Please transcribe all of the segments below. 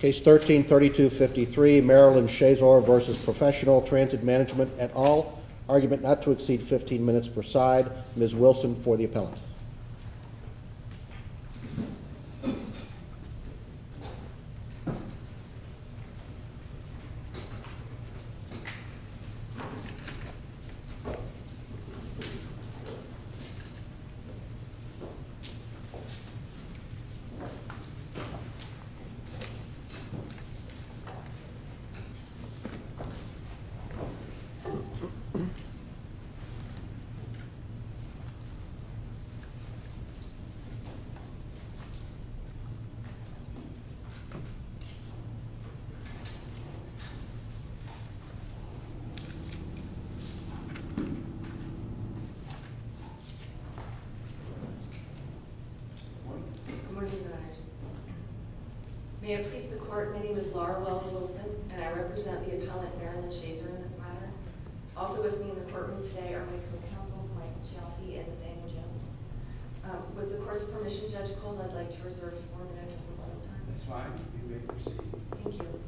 Case 13-3253, Marilyn Shazor v. Professional Transit Management et al. Argument not to exceed 15 minutes per side. Ms. Wilson for the appellant. Good morning. Good morning, guys. May it please the Court, my name is Laura Wells Wilson, and I represent the appellant, Marilyn Shazor, in this matter. Also with me in the courtroom today are my co-counsel, Mike Jaffe, and Nathaniel Jones. With the Court's permission, Judge Cole, I'd like to reserve four minutes of rebuttal time. That's fine. You may proceed. Thank you.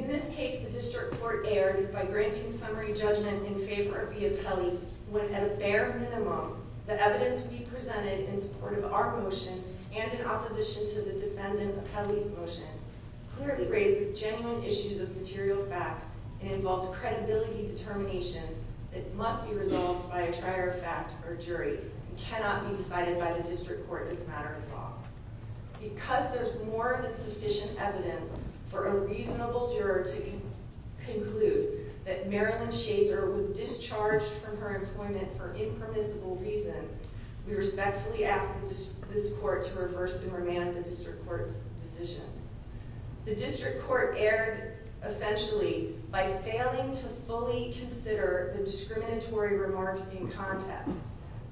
In this case, the District Court erred by granting summary judgment in favor of the appellees when, at a bare minimum, the evidence we presented in support of our motion and in opposition to the defendant appellee's motion clearly raises genuine issues of material fact and involves credibility determinations that must be resolved by a trier of fact or jury and cannot be decided by the District Court as a matter of law. Because there's more than sufficient evidence for a reasonable juror to conclude that Marilyn Shazor was discharged from her employment for impermissible reasons, we respectfully ask this Court to reverse and remand the District Court's decision. The District Court erred, essentially, by failing to fully consider the discriminatory remarks in context,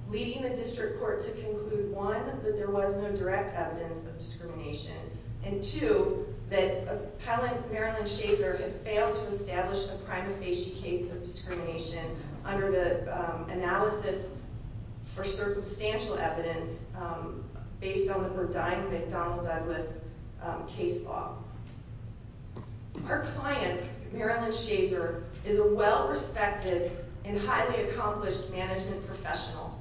leading the District Court to conclude, one, that there was no direct evidence of discrimination, and two, that appellant Marilyn Shazor had failed to establish a prima facie case of discrimination under the analysis for circumstantial evidence based on the Verdine-McDonald-Douglas case law. Our client, Marilyn Shazor, is a well-respected and highly accomplished management professional.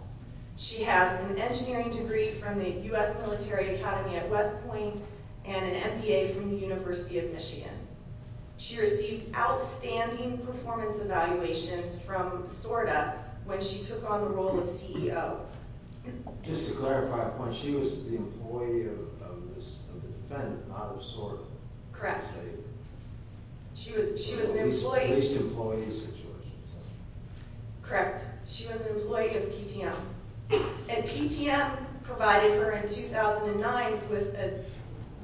She has an engineering degree from the U.S. Military Academy at West Point and an MBA from the University of Michigan. She received outstanding performance evaluations from SORDA when she took on the role of CEO. Just to clarify a point, she was the employee of the defendant, not of SORDA. Correct. She was an employee... In the least employee situation. Correct. She was an employee of PTM. And PTM provided her in 2009 with a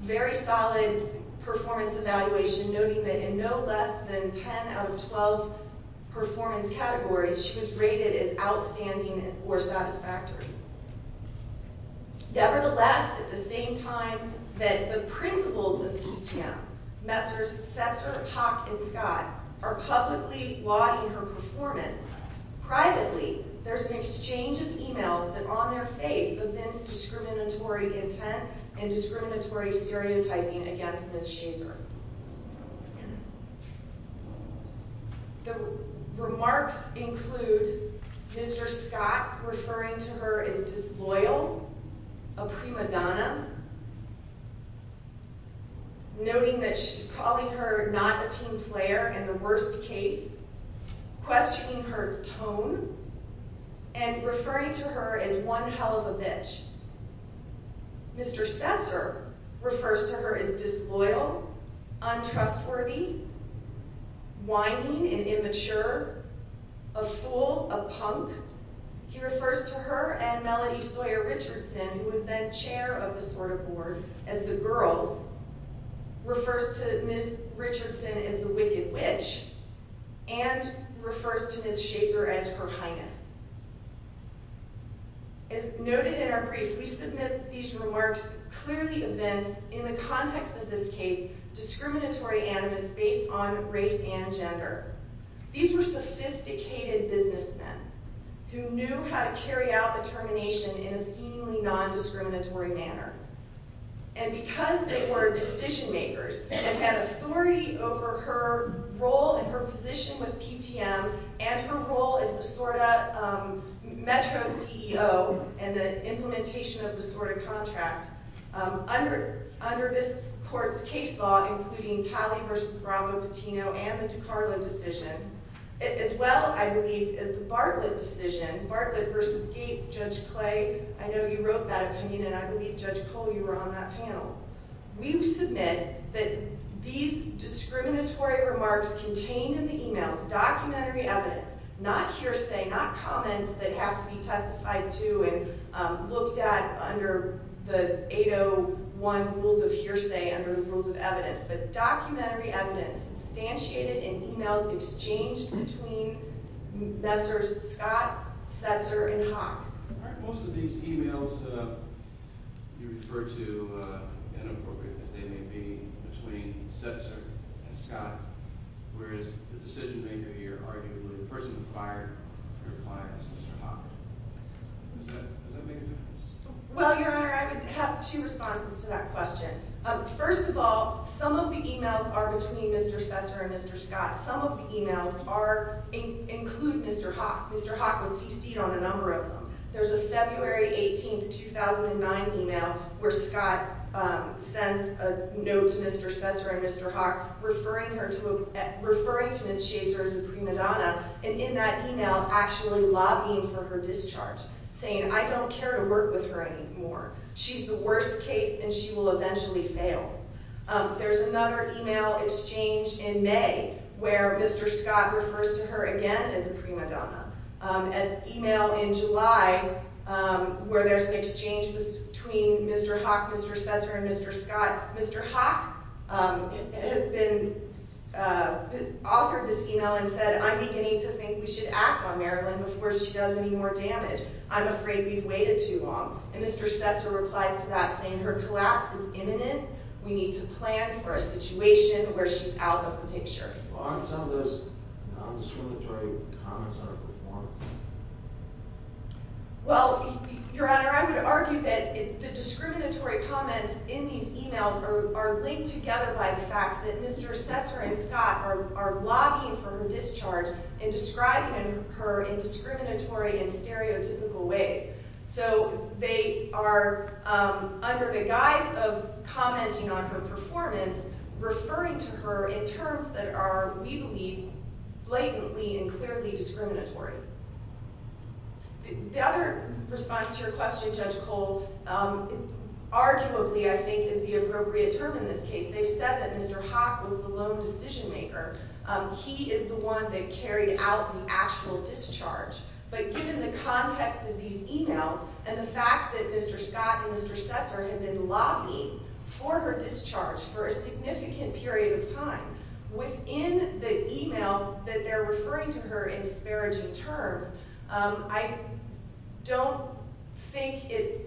very solid performance evaluation, noting that in no less than 10 out of 12 performance categories, she was rated as outstanding or satisfactory. Nevertheless, at the same time that the principals of PTM, Messrs. Setzer, Pock, and Scott, are publicly lauding her performance, privately, there's an exchange of emails that on their face evince discriminatory intent and discriminatory stereotyping against Ms. Shazor. The remarks include Mr. Scott referring to her as disloyal, a prima donna, noting that calling her not a team player in the worst case, questioning her tone, and referring to her as one hell of a bitch. Mr. Setzer refers to her as disloyal, untrustworthy, whining and immature, a fool, a punk. He refers to her and Melody Sawyer Richardson, who was then chair of the SORDA board as the girls, refers to Ms. Richardson as the wicked witch, and refers to Ms. Shazor as her highness. As noted in our brief, we submit these remarks clearly evince, in the context of this case, discriminatory animus based on race and gender. These were sophisticated businessmen who knew how to carry out determination in a seemingly non-discriminatory manner. And because they were decision makers and had authority over her role and her position with PTM and her role as the SORDA Metro CEO and the implementation of the SORDA contract, under this court's case law, including Talley v. Brambo-Pitino and the DiCarlo decision, as well, I believe, as the Bartlett decision, Bartlett v. Gates, Judge Clay, I know you wrote that opinion, and I believe, Judge Cole, you were on that panel. We submit that these discriminatory remarks contained in the emails, documentary evidence, not hearsay, not comments that have to be testified to and looked at under the 801 rules of hearsay, under the rules of evidence, but documentary evidence substantiated in emails exchanged between Messrs. Scott, Setzer, and Haack. Aren't most of these emails you refer to inappropriateness? They may be between Setzer and Scott, whereas the decision maker here arguably the person who fired her clients, Mr. Haack. Does that make a difference? Well, Your Honor, I would have two responses to that question. First of all, some of the emails are between Mr. Setzer and Mr. Scott. Some of the emails include Mr. Haack. Mr. Haack was CC'd on a number of them. There's a February 18, 2009 email where Scott sends a note to Mr. Setzer and Mr. Haack referring to Ms. Chaser as a prima donna, and in that email actually lobbying for her discharge, saying, I don't care to work with her anymore. She's the worst case, and she will eventually fail. There's another email exchange in May where Mr. Scott refers to her again as a prima donna. An email in July where there's an exchange between Mr. Haack, Mr. Setzer, and Mr. Scott. Mr. Haack has been, authored this email and said, I'm beginning to think we should act on Marilyn before she does any more damage. I'm afraid we've waited too long. And Mr. Setzer replies to that saying her collapse is imminent. We need to plan for a situation where she's out of the picture. Why aren't some of those non-discriminatory comments on her performance? Well, Your Honor, I would argue that the discriminatory comments in these emails are linked together by the fact that Mr. Setzer and Scott are lobbying for her discharge and describing her in discriminatory and stereotypical ways. So they are, under the guise of commenting on her performance, referring to her in terms that are, we believe, blatantly and clearly discriminatory. The other response to your question, Judge Cole, arguably I think is the appropriate term in this case. They've said that Mr. Haack was the lone decision maker. He is the one that carried out the actual discharge. But given the context of these emails and the fact that Mr. Scott and Mr. Setzer have been lobbying for her discharge for a significant period of time, within the emails that they're referring to her in disparaging terms, I don't think it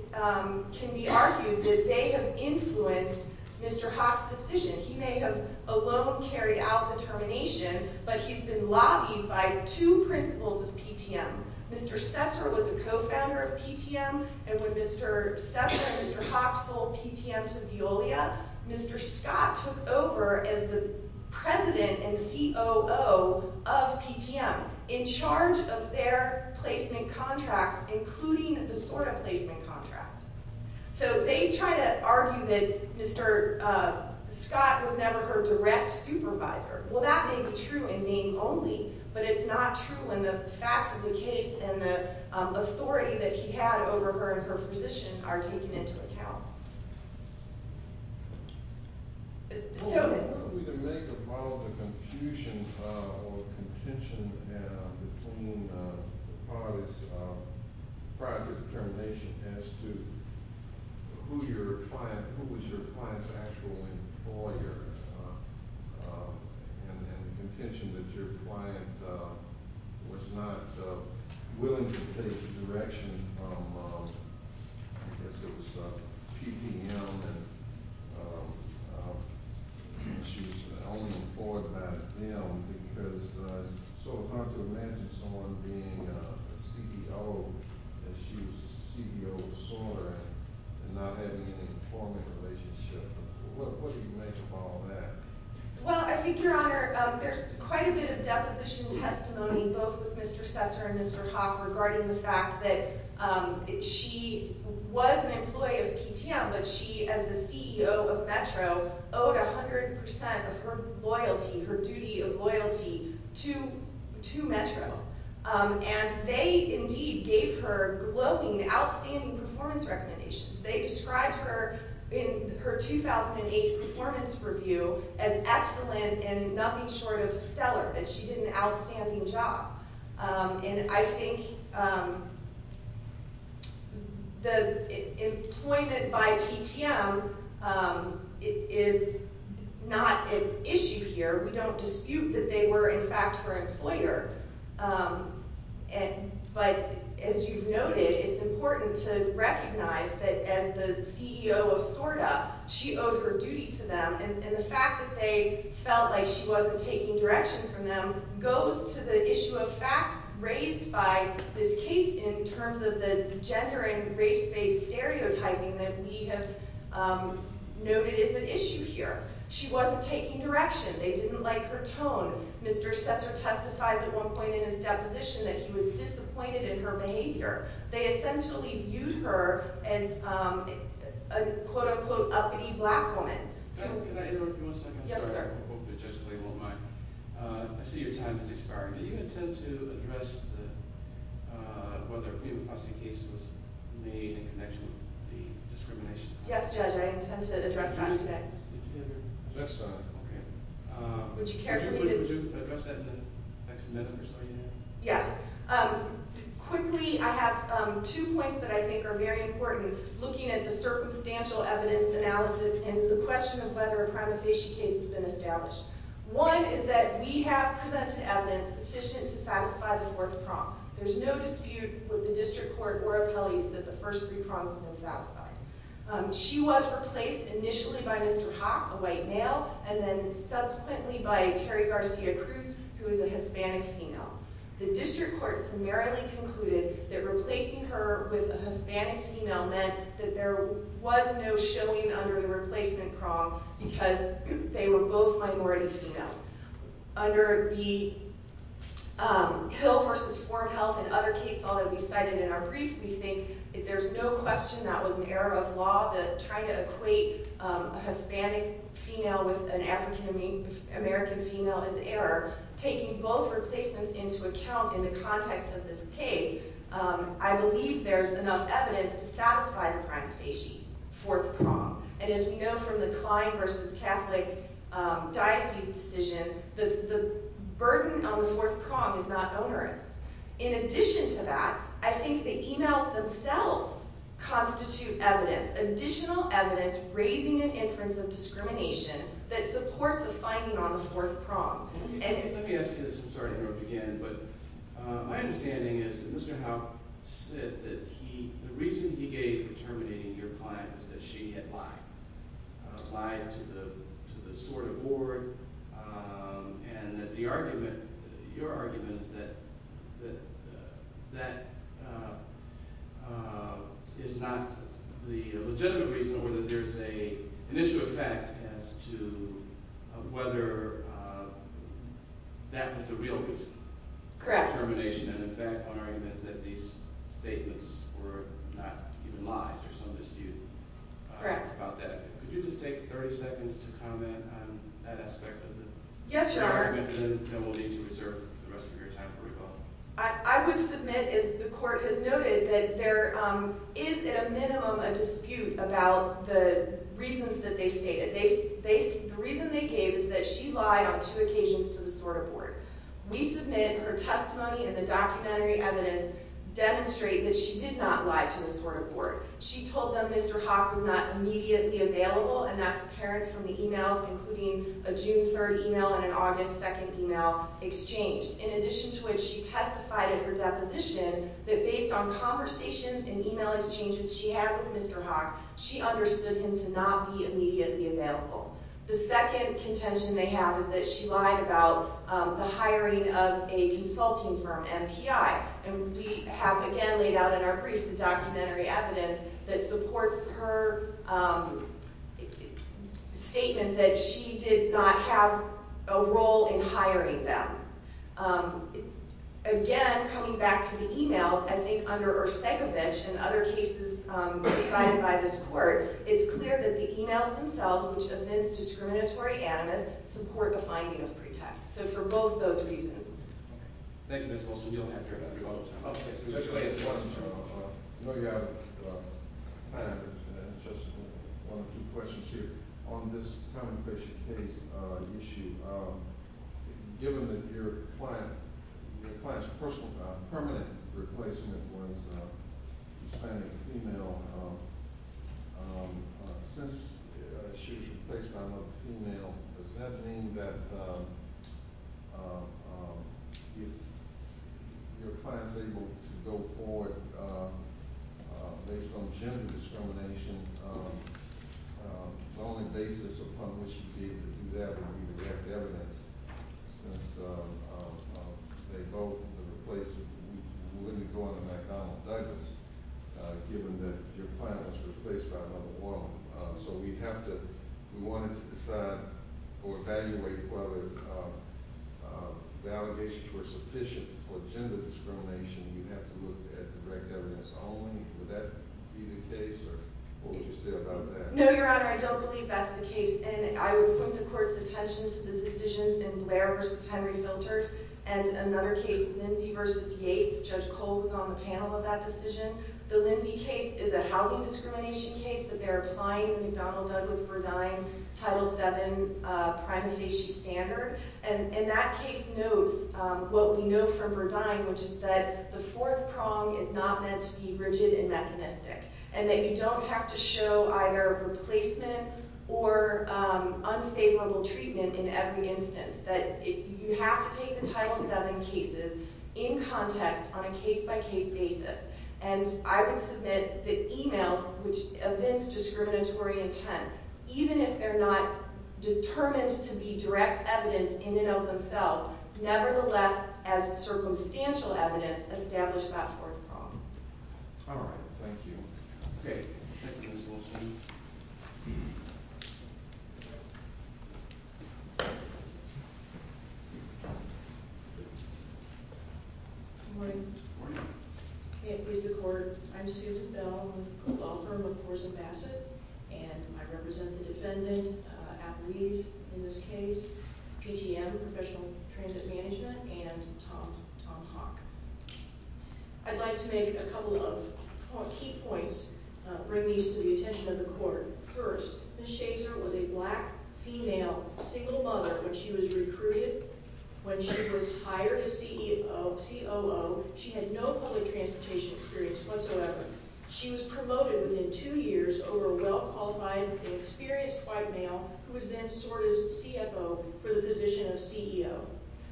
can be argued that they have influenced Mr. Haack's decision. He may have alone carried out the termination, but he's been lobbied by two principals of PTM. Mr. Setzer was a co-founder of PTM, and when Mr. Setzer and Mr. Haack sold PTM to Veolia, Mr. Scott took over as the president and COO of PTM in charge of their placement contracts, including the SORTA placement contract. So they try to argue that Mr. Scott was never her direct supervisor. Well, that may be true in name only, but it's not true when the facts of the case and the authority that he had over her and her position are taken into account. So- I don't know if we can make a point of the confusion or contention between the parties prior to the termination as to who your client- who was your client's actual employer and the contention that your client was not willing to take the direction from, I guess it was PTM and she was only employed by them, because it's sort of hard to imagine someone being a CEO and she was a CEO of SORTA and not having any employment relationship. What do you make of all that? Well, I think, Your Honor, there's quite a bit of deposition testimony, both with Mr. Setzer and Mr. Haack, regarding the fact that she was an employee of PTM, but she, as the CEO of Metro, owed 100% of her loyalty, her duty of loyalty, to Metro. And they indeed gave her glowing, outstanding performance recommendations. They described her in her 2008 performance review as excellent and nothing short of stellar, that she did an outstanding job. And I think the employment by PTM is not an issue here. We don't dispute that they were, in fact, her employer. But as you've noted, it's important to recognize that as the CEO of SORTA, she owed her duty to them. And the fact that they felt like she wasn't taking direction from them goes to the issue of fact raised by this case in terms of the gender and race-based stereotyping that we have noted as an issue here. She wasn't taking direction. They didn't like her tone. Mr. Setzer testifies at one point in his deposition that he was disappointed in her behavior. They essentially viewed her as a, quote-unquote, uppity black woman. Can I interrupt you one second? Yes, sir. I have a quote that Judge Clay won't mind. I see your time has expired. Do you intend to address whether a pre-apostasy case was made in connection with the discrimination? Yes, Judge, I intend to address that today. Would you care for me to address that in the next minute or so? Yes. Quickly, I have two points that I think are very important looking at the circumstantial evidence analysis and the question of whether a prima facie case has been established. One is that we have presented evidence sufficient to satisfy the fourth prong. There's no dispute with the district court or appellees that the first three prongs have been satisfied. She was replaced initially by Mr. Haack, a white male, and then subsequently by Terry Garcia-Cruz, who is a Hispanic female. The district court summarily concluded that replacing her with a Hispanic female meant that there was no showing under the replacement prong because they were both minority females. Under the Hill v. Foreign Health and other case law that we cited in our brief, we think there's no question that was an error of law, that trying to equate a Hispanic female with an African American female is error. Taking both replacements into account in the context of this case, I believe there's enough evidence to satisfy the prima facie fourth prong. As we know from the Klein v. Catholic Diocese decision, the burden on the fourth prong is not onerous. In addition to that, I think the emails themselves constitute evidence, additional evidence raising an inference of discrimination that supports a finding on the fourth prong. Let me ask you this. I'm sorry to interrupt again, but my understanding is that Mr. Haack said that the reason he gave for terminating your client was that she had lied. She had lied to the sort of board, and your argument is that that is not the legitimate reason or that there's an issue of fact as to whether that was the real reason for termination. And in fact, my argument is that these statements were not even lies. There's some dispute about that. Could you just take 30 seconds to comment on that aspect of the argument? Then we'll need to reserve the rest of your time for rebuttal. I would submit, as the court has noted, that there is at a minimum a dispute about the reasons that they stated. The reason they gave is that she lied on two occasions to the sort of board. We submit her testimony and the documentary evidence demonstrate that she did not lie to the sort of board. She told them Mr. Haack was not immediately available, and that's apparent from the emails, including a June 3rd email and an August 2nd email exchange, in addition to which she testified in her deposition that based on conversations and email exchanges she had with Mr. Haack, she understood him to not be immediately available. The second contention they have is that she lied about the hiring of a consulting firm, MPI. And we have again laid out in our brief the documentary evidence that supports her statement that she did not have a role in hiring them. Again, coming back to the emails, I think under Ursegovich and other cases decided by this court, it's clear that the emails themselves, which evince discriminatory animus, support a finding of pretext. So for both those reasons. Thank you, Ms. Wilson. We don't have very much time. No, you have time for just one or two questions here. On this common patient case issue, given that your client's personal permanent replacement was a Hispanic female, since she was replaced by another female, does that mean that if your client's able to go forward based on gender discrimination, the only basis upon which you'd be able to do that would be direct evidence, since they both were replaced. You wouldn't be going to McDonnell Douglas, given that your client was replaced by another woman. So we'd have to – we wanted to decide or evaluate whether the allegations were sufficient for gender discrimination. You'd have to look at direct evidence only. Would that be the case, or what would you say about that? No, Your Honor, I don't believe that's the case. And I would point the Court's attention to the decisions in Blair v. Henry Filters and another case, Lindsay v. Yates. Judge Cole was on the panel of that decision. The Lindsay case is a housing discrimination case, but they're applying McDonnell Douglas-Verdine Title VII prima facie standard. And that case knows what we know from Verdine, which is that the fourth prong is not meant to be rigid and mechanistic, and that you don't have to show either replacement or unfavorable treatment in every instance, that you have to take the Title VII cases in context on a case-by-case basis. And I would submit that emails, which evince discriminatory intent, even if they're not determined to be direct evidence in and of themselves, nevertheless, as circumstantial evidence, establish that fourth prong. All right, thank you. Okay, Ms. Wilson. Good morning. Good morning. Okay, please, the Court. I'm Susan Bell, I'm a law firm with Morrison-Bassett, and I represent the defendant, Applebee's in this case, PTM, Professional Transit Management, and Tom Hawk. I'd like to make a couple of key points, bring these to the attention of the Court. First, Ms. Shazer was a black, female, single mother when she was recruited. When she was hired as COO, she had no public transportation experience whatsoever. She was promoted within two years over a well-qualified, experienced white male, who was then sorted as CFO for the position of CEO.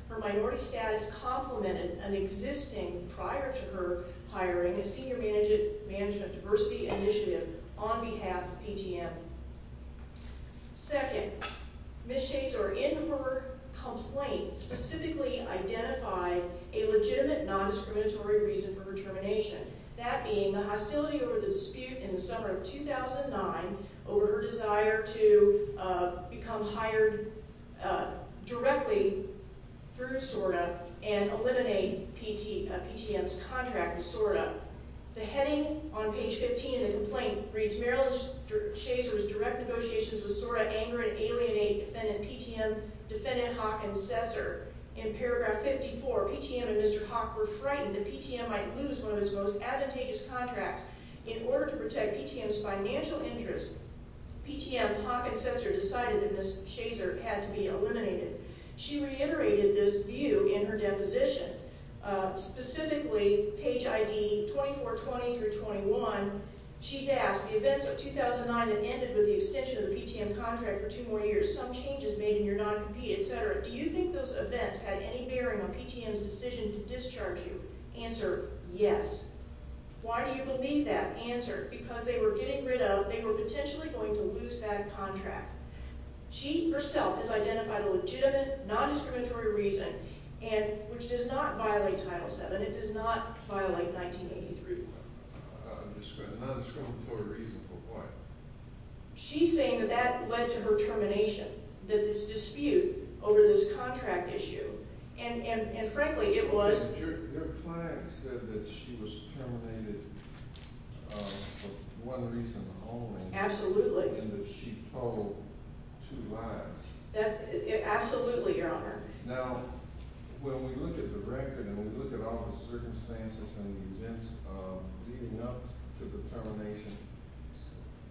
Her minority status complemented an existing, prior to her hiring, a senior management diversity initiative on behalf of PTM. Second, Ms. Shazer, in her complaint, specifically identified a legitimate non-discriminatory reason for her termination, that being the hostility over the dispute in the summer of 2009 over her desire to become hired directly through SORTA and eliminate PTM's contract with SORTA. The heading on page 15 of the complaint reads, Marilyn Shazer's direct negotiations with SORTA anger and alienate Defendant Hawk and Cesar. In paragraph 54, PTM and Mr. Hawk were frightened that PTM might lose one of its most advantageous contracts In order to protect PTM's financial interests, PTM, Hawk, and Cesar decided that Ms. Shazer had to be eliminated. She reiterated this view in her deposition. Specifically, page ID 2420-21, she's asked, The events of 2009 that ended with the extension of the PTM contract for two more years, some changes made in your non-compete, etc., do you think those events had any bearing on PTM's decision to discharge you? Answer, yes. Why do you believe that? Answer, because they were getting rid of, they were potentially going to lose that contract. She herself has identified a legitimate, non-discriminatory reason, which does not violate Title VII, it does not violate 1983. A non-discriminatory reason for what? She's saying that that led to her termination, that this dispute over this contract issue, and frankly, it was... Your client said that she was terminated for one reason only. Absolutely. And that she told two lies. Absolutely, Your Honor. Now, when we look at the record and we look at all the circumstances and the events leading up to the termination,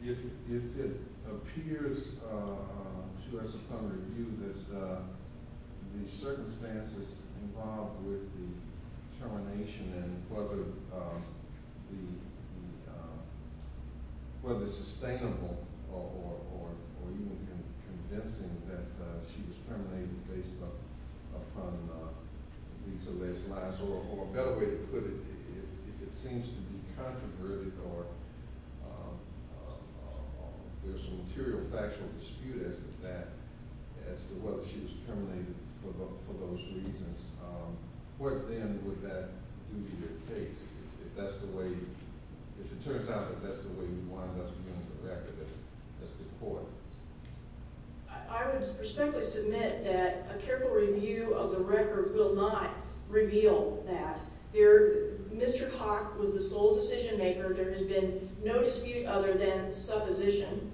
if it appears to us upon review that the circumstances involved with the termination and whether sustainable or even convincing that she was terminated based upon these or those lies, or a better way to put it, if it seems to be controverted or there's a material factual dispute as to that, as to whether she was terminated for those reasons, what then would that do to your case? If that's the way you... If it turns out that that's the way you wind up doing the record, that's the court. I would respectfully submit that a careful review of the record will not reveal that. Mr. Haack was the sole decision-maker. There has been no dispute other than supposition.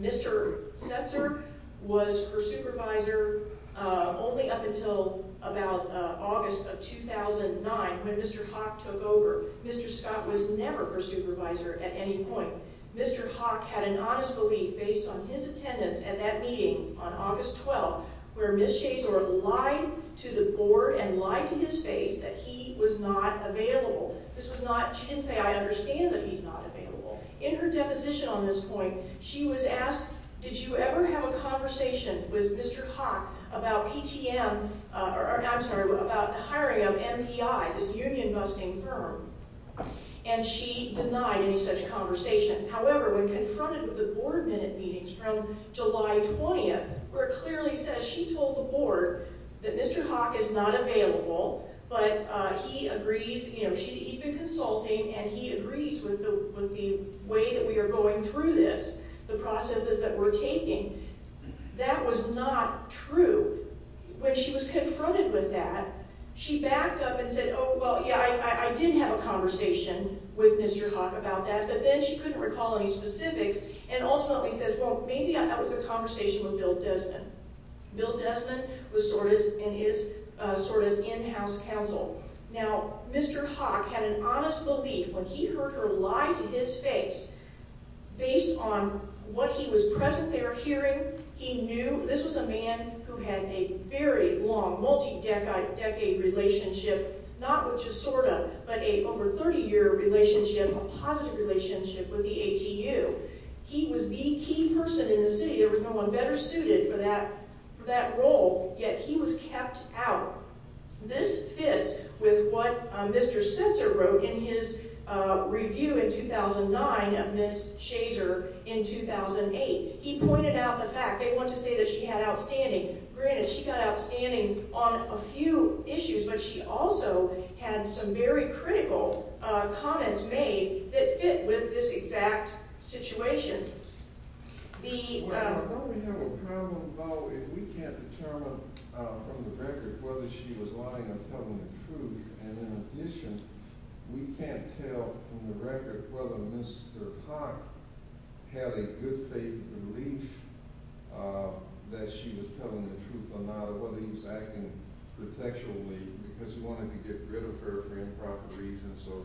Mr. Setzer was her supervisor only up until about August of 2009 when Mr. Haack took over. Mr. Scott was never her supervisor at any point. Mr. Haack had an honest belief based on his attendance at that meeting on August 12th where Ms. Schaetzler lied to the board and lied to his face that he was not available. This was not... She didn't say, I understand that he's not available. In her deposition on this point, she was asked, did you ever have a conversation with Mr. Haack about PTM... I'm sorry, about the hiring of MPI, this union-busting firm, and she denied any such conversation. However, when confronted with the board minute meetings from July 20th where it clearly says she told the board that Mr. Haack is not available but he agrees... The way that we are going through this, the processes that we're taking, that was not true. When she was confronted with that, she backed up and said, oh, well, yeah, I did have a conversation with Mr. Haack about that, but then she couldn't recall any specifics and ultimately says, well, maybe that was a conversation with Bill Desmond. Bill Desmond was Sorda's in-house counsel. Now, Mr. Haack had an honest belief when he heard her lie to his face based on what he was present there hearing. He knew this was a man who had a very long, multi-decade relationship, not with just Sorda, but a over 30-year relationship, a positive relationship with the ATU. He was the key person in the city. There was no one better suited for that role, yet he was kept out. This fits with what Mr. Sensor wrote in his review in 2009 of Ms. Shazer in 2008. He pointed out the fact they want to say that she had outstanding. Granted, she got outstanding on a few issues, but she also had some very critical comments made that fit with this exact situation. Well, don't we have a problem, though, if we can't determine from the record whether she was lying or telling the truth, and in addition, we can't tell from the record whether Mr. Haack had a good faith belief that she was telling the truth or not or whether he was acting protectively because he wanted to get rid of her for improper reasons or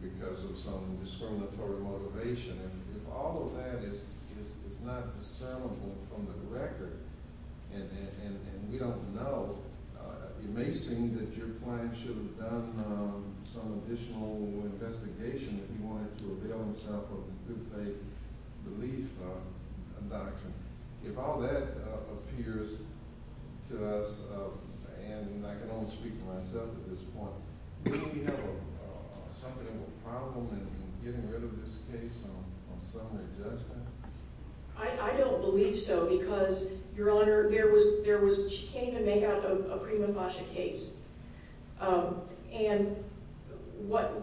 because of some discriminatory motivation. If all of that is not discernible from the record and we don't know, it may seem that your client should have done some additional investigation if he wanted to avail himself of a good faith belief doctrine. If all that appears to us, and I can only speak for myself at this point, don't we have something of a problem in getting rid of this case on summary judgment? I don't believe so because, Your Honor, there was— she came to make out a prima facie case, and what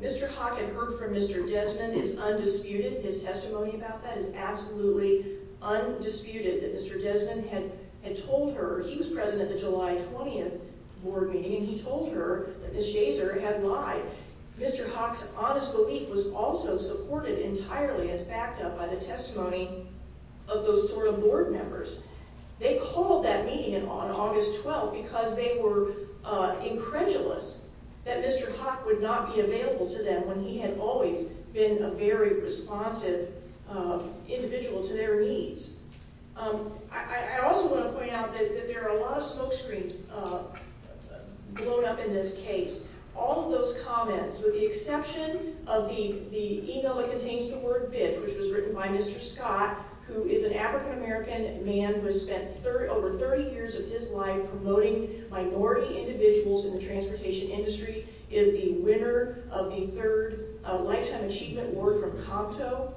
Mr. Haack had heard from Mr. Desmond is undisputed. His testimony about that is absolutely undisputed, that Mr. Desmond had told her—he was present at the July 20th board meeting and he told her that Ms. Shazer had lied. Mr. Haack's honest belief was also supported entirely as backed up by the testimony of those sort of board members. They called that meeting on August 12th because they were incredulous that Mr. Haack would not be available to them when he had always been a very responsive individual to their needs. I also want to point out that there are a lot of smoke screens blown up in this case. All of those comments, with the exception of the email that contains the word bitch, which was written by Mr. Scott, who is an African-American man who has spent over 30 years of his life promoting minority individuals in the transportation industry, is the winner of the third Lifetime Achievement Award from Comto.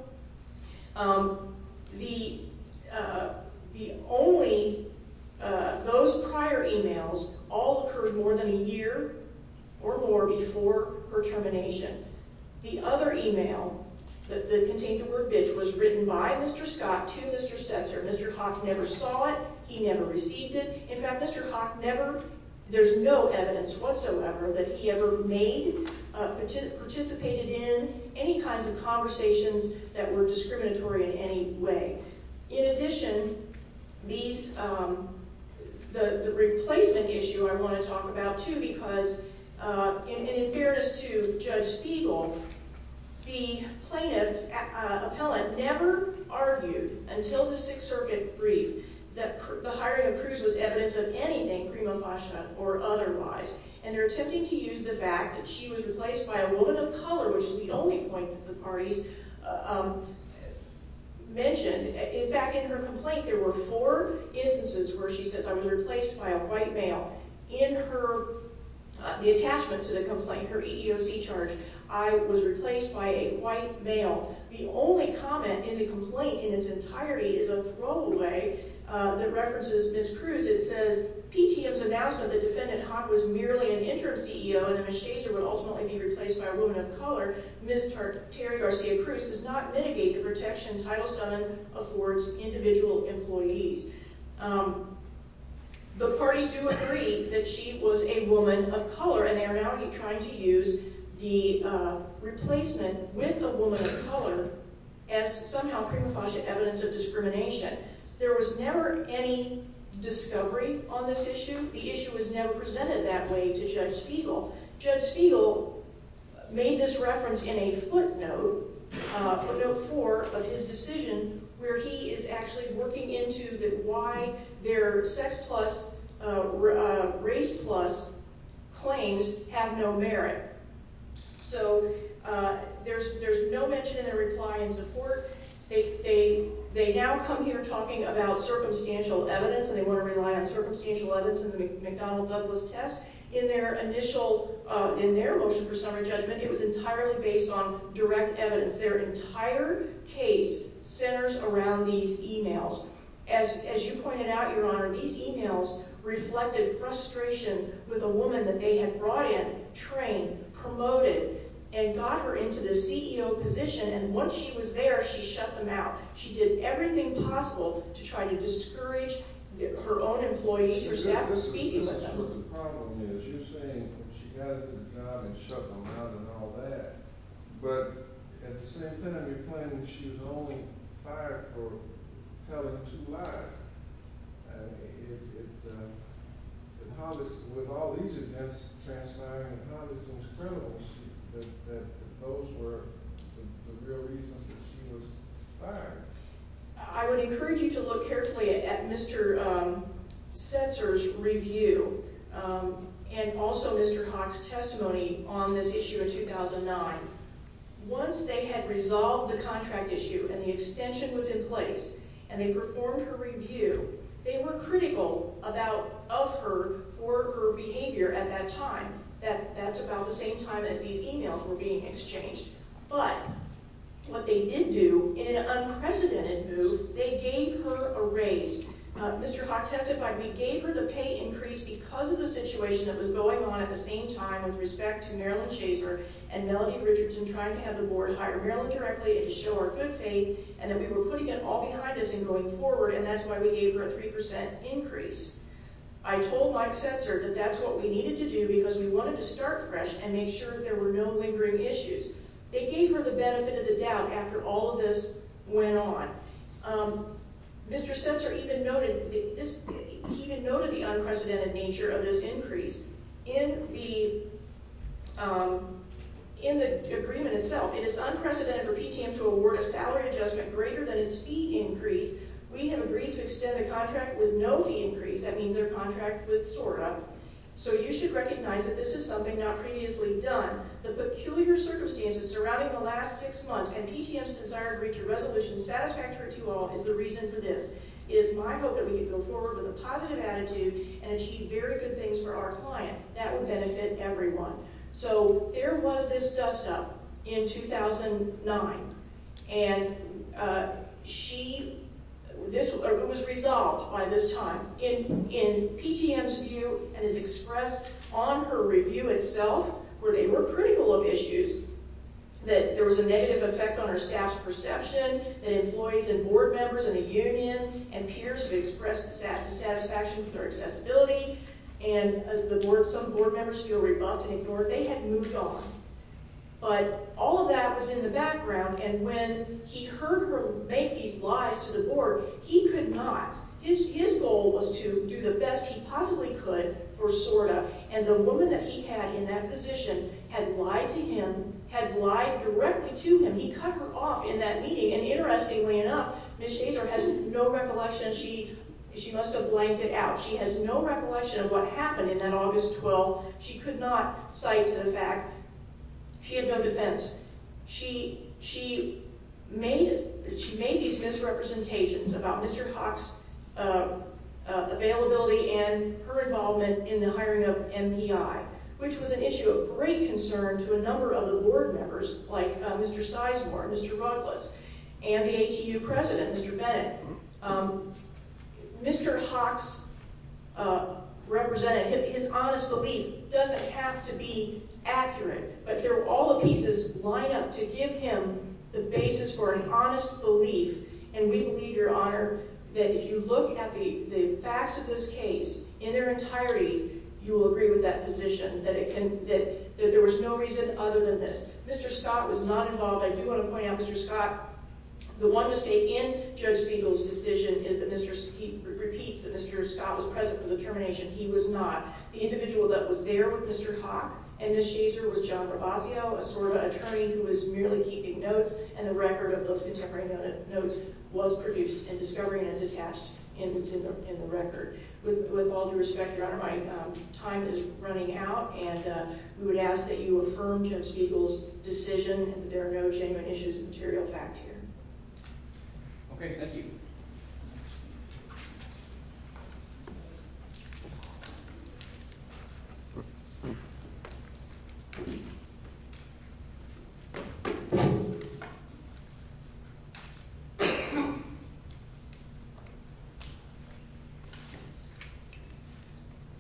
The only—those prior emails all occurred more than a year or more before her termination. The other email that contained the word bitch was written by Mr. Scott to Mr. Setzer. Mr. Haack never saw it. He never received it. In fact, Mr. Haack never—there's no evidence whatsoever that he ever made, participated in any kinds of conversations that were discriminatory in any way. In addition, these—the replacement issue I want to talk about, too, because in fairness to Judge Spiegel, the plaintiff—appellant never argued until the Sixth Circuit brief that the hiring of Cruz was evidence of anything prima facie or otherwise, and they're attempting to use the fact that she was replaced by a woman of color, which is the only point that the parties mentioned. In fact, in her complaint, there were four instances where she says, I was replaced by a white male. In her—the attachment to the complaint, her EEOC charge, I was replaced by a white male. The only comment in the complaint in its entirety is a throwaway that references Ms. Cruz. It says, PTM's announcement that Defendant Haack was merely an interim CEO and that Ms. Shazer would ultimately be replaced by a woman of color. Ms. Terry Garcia-Cruz does not mitigate the protection Title VII affords individual employees. The parties do agree that she was a woman of color, and they are now trying to use the replacement with a woman of color as somehow prima facie evidence of discrimination. There was never any discovery on this issue. The issue was never presented that way to Judge Spiegel. Judge Spiegel made this reference in a footnote, footnote four of his decision, where he is actually working into why their sex-plus, race-plus claims have no merit. So there's no mention in their reply and support. They now come here talking about circumstantial evidence, and they want to rely on circumstantial evidence in the McDonnell-Douglas test. In their motion for summary judgment, it was entirely based on direct evidence. Their entire case centers around these e-mails. As you pointed out, Your Honor, these e-mails reflected frustration with a woman that they had brought in, trained, promoted, and got her into the CEO position. And once she was there, she shut them out. She did everything possible to try to discourage her own employees or staff from speaking with them. The problem is you're saying she got into the job and shut them out and all that. But at the same time, you're claiming she was only fired for telling two lies. With all these events transpiring, how is it credible that those were the real reasons that she was fired? I would encourage you to look carefully at Mr. Setzer's review and also Mr. Haack's testimony on this issue in 2009. Once they had resolved the contract issue and the extension was in place and they performed her review, they were critical of her for her behavior at that time. That's about the same time as these e-mails were being exchanged. But what they did do in an unprecedented move, they gave her a raise. Mr. Haack testified, we gave her the pay increase because of the situation that was going on at the same time with respect to Marilyn Shazer and Melanie Richardson trying to have the board hire Marilyn directly to show her good faith and that we were putting it all behind us in going forward and that's why we gave her a 3% increase. I told Mike Setzer that that's what we needed to do because we wanted to start fresh and make sure there were no lingering issues. They gave her the benefit of the doubt after all of this went on. Mr. Setzer even noted the unprecedented nature of this increase in the agreement itself. It is unprecedented for PTM to award a salary adjustment greater than its fee increase. We have agreed to extend the contract with no fee increase. That means their contract with SORA. So you should recognize that this is something not previously done. The peculiar circumstances surrounding the last six months and PTM's desire to reach a resolution satisfactory to all is the reason for this. It is my hope that we can go forward with a positive attitude and achieve very good things for our client. That would benefit everyone. There was this dust up in 2009. It was resolved by this time. In PTM's view and as expressed on her review itself where they were critical of issues, that there was a negative effect on her staff's perception, that employees and board members and the union and peers have expressed dissatisfaction with her accessibility and some board members feel rebuffed and ignored. They had moved on. But all of that was in the background. And when he heard her make these lies to the board, he could not. His goal was to do the best he possibly could for SORA. And the woman that he had in that position had lied to him, had lied directly to him. He cut her off in that meeting. And interestingly enough, Ms. Shazer has no recollection. She must have blanked it out. She has no recollection of what happened in that August 12th. She could not cite the fact. She had no defense. She made these misrepresentations about Mr. Hock's availability and her involvement in the hiring of MPI, which was an issue of great concern to a number of the board members like Mr. Sizemore, Mr. Rutless, and the ATU president, Mr. Bennett. Mr. Hock's honest belief doesn't have to be accurate, but all the pieces line up to give him the basis for an honest belief. And we believe, Your Honor, that if you look at the facts of this case in their entirety, you will agree with that position, that there was no reason other than this. Mr. Scott was not involved. I do want to point out, Mr. Scott, the one mistake in Judge Spiegel's decision is that Mr. Spiegel repeats that Mr. Scott was present for the termination. He was not. The individual that was there with Mr. Hock and Ms. Shazer was John Rabasio, a SORBA attorney who was merely keeping notes, and the record of those contemporary notes was produced and discovery notes attached in the record. With all due respect, Your Honor, my time is running out, and we would ask that you affirm Judge Spiegel's decision that there are no genuine issues of material fact here. Okay. Thank you.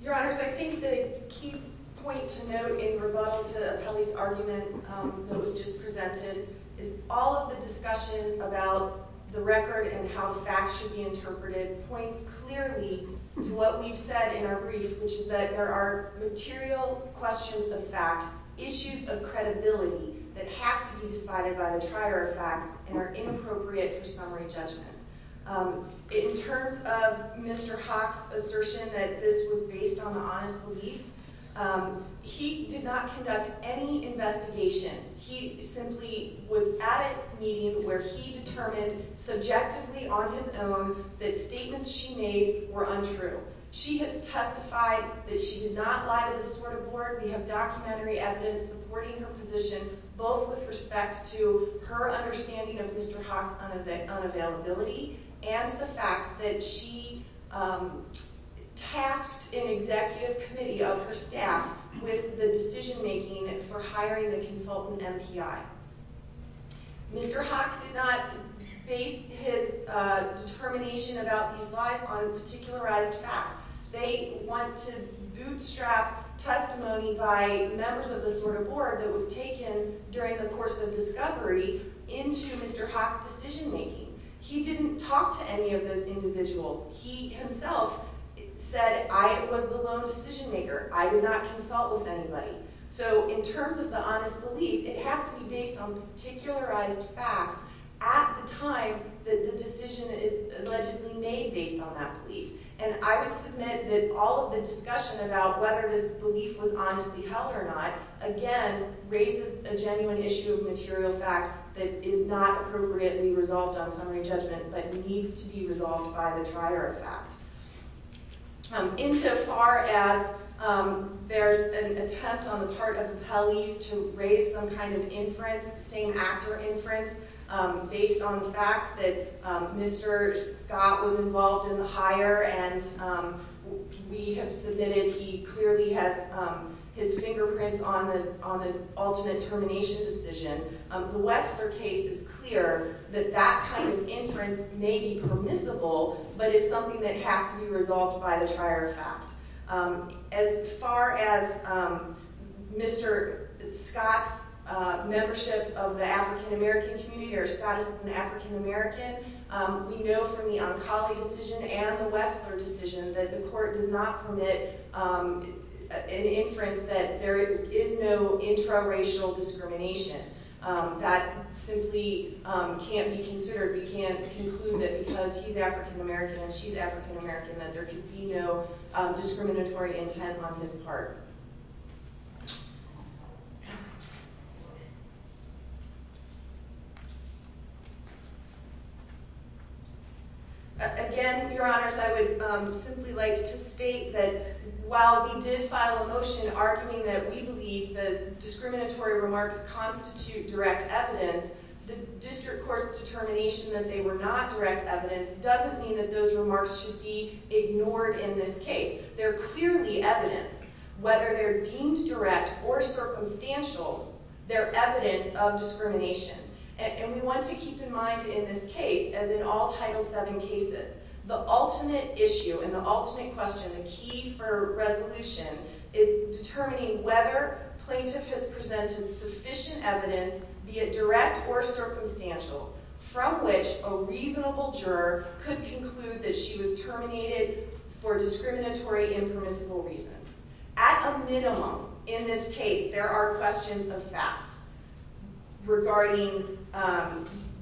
Your Honors, I think the key point to note in rebuttal to Apelli's argument that was just presented is all of the discussion about the record and how the facts should be interpreted points clearly to what we've said in our brief, which is that there are material questions of fact, issues of credibility that have to be decided by the trier of fact and are inappropriate for summary judgment. In terms of Mr. Hock's assertion that this was based on the honest belief, he did not conduct any investigation. He simply was at a meeting where he determined subjectively on his own that statements she made were untrue. She has testified that she did not lie to the SORBA board. We have documentary evidence supporting her position, both with respect to her understanding of Mr. Hock's unavailability and the fact that she tasked an executive committee of her staff with the decision-making for hiring the consultant MPI. Mr. Hock did not base his determination about these lies on particularized facts. They want to bootstrap testimony by members of the SORBA board that was taken during the course of discovery into Mr. Hock's decision-making. He didn't talk to any of those individuals. He himself said, I was the lone decision-maker. I did not consult with anybody. So in terms of the honest belief, it has to be based on particularized facts at the time that the decision is allegedly made based on that belief. And I would submit that all of the discussion about whether this belief was honestly held or not, again, raises a genuine issue of material fact that is not appropriately resolved on summary judgment but needs to be resolved by the trier of fact. Insofar as there's an attempt on the part of the Peleys to raise some kind of inference, same-actor inference, based on the fact that Mr. Scott was involved in the hire and we have submitted he clearly has his fingerprints on the ultimate termination decision, the Wexler case is clear that that kind of inference may be permissible but is something that has to be resolved by the trier of fact. As far as Mr. Scott's membership of the African-American community or Scott as an African-American, we know from the Oncoli decision and the Wexler decision that the court does not permit an inference that there is no intraracial discrimination. That simply can't be considered. We can't conclude that because he's African-American and she's African-American that there can be no discriminatory intent on his part. Again, Your Honors, I would simply like to state that while we did file a motion arguing that we believe that discriminatory remarks constitute direct evidence, the district court's determination that they were not direct evidence doesn't mean that those remarks should be ignored in this case. They're clearly evidence. Whether they're deemed direct or circumstantial, they're evidence of discrimination. And we want to keep in mind in this case, as in all Title VII cases, the ultimate issue and the ultimate question, the key for resolution, is determining whether plaintiff has presented sufficient evidence, be it direct or circumstantial, from which a reasonable juror could conclude that she was terminated for discriminatory, impermissible reasons. At a minimum, in this case, there are questions of fact regarding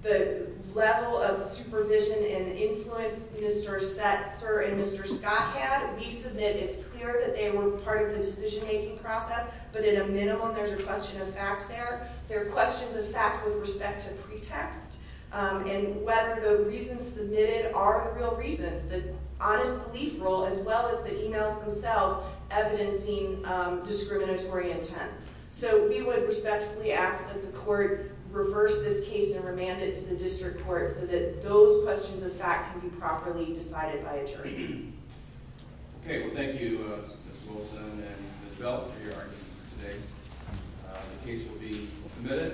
the level of supervision and influence Mr. Setzer and Mr. Scott had. We submit it's clear that they were part of the decision-making process, but at a minimum, there's a question of fact there. There are questions of fact with respect to pretext and whether the reasons submitted are the real reasons, the honest belief rule as well as the emails themselves evidencing discriminatory intent. So we would respectfully ask that the court reverse this case and remand it to the district court so that those questions of fact can be properly decided by a jury. Okay. Well, thank you, Ms. Wilson and Ms. Bell, for your arguments today. The case will be submitted and then the Department of Public Instance.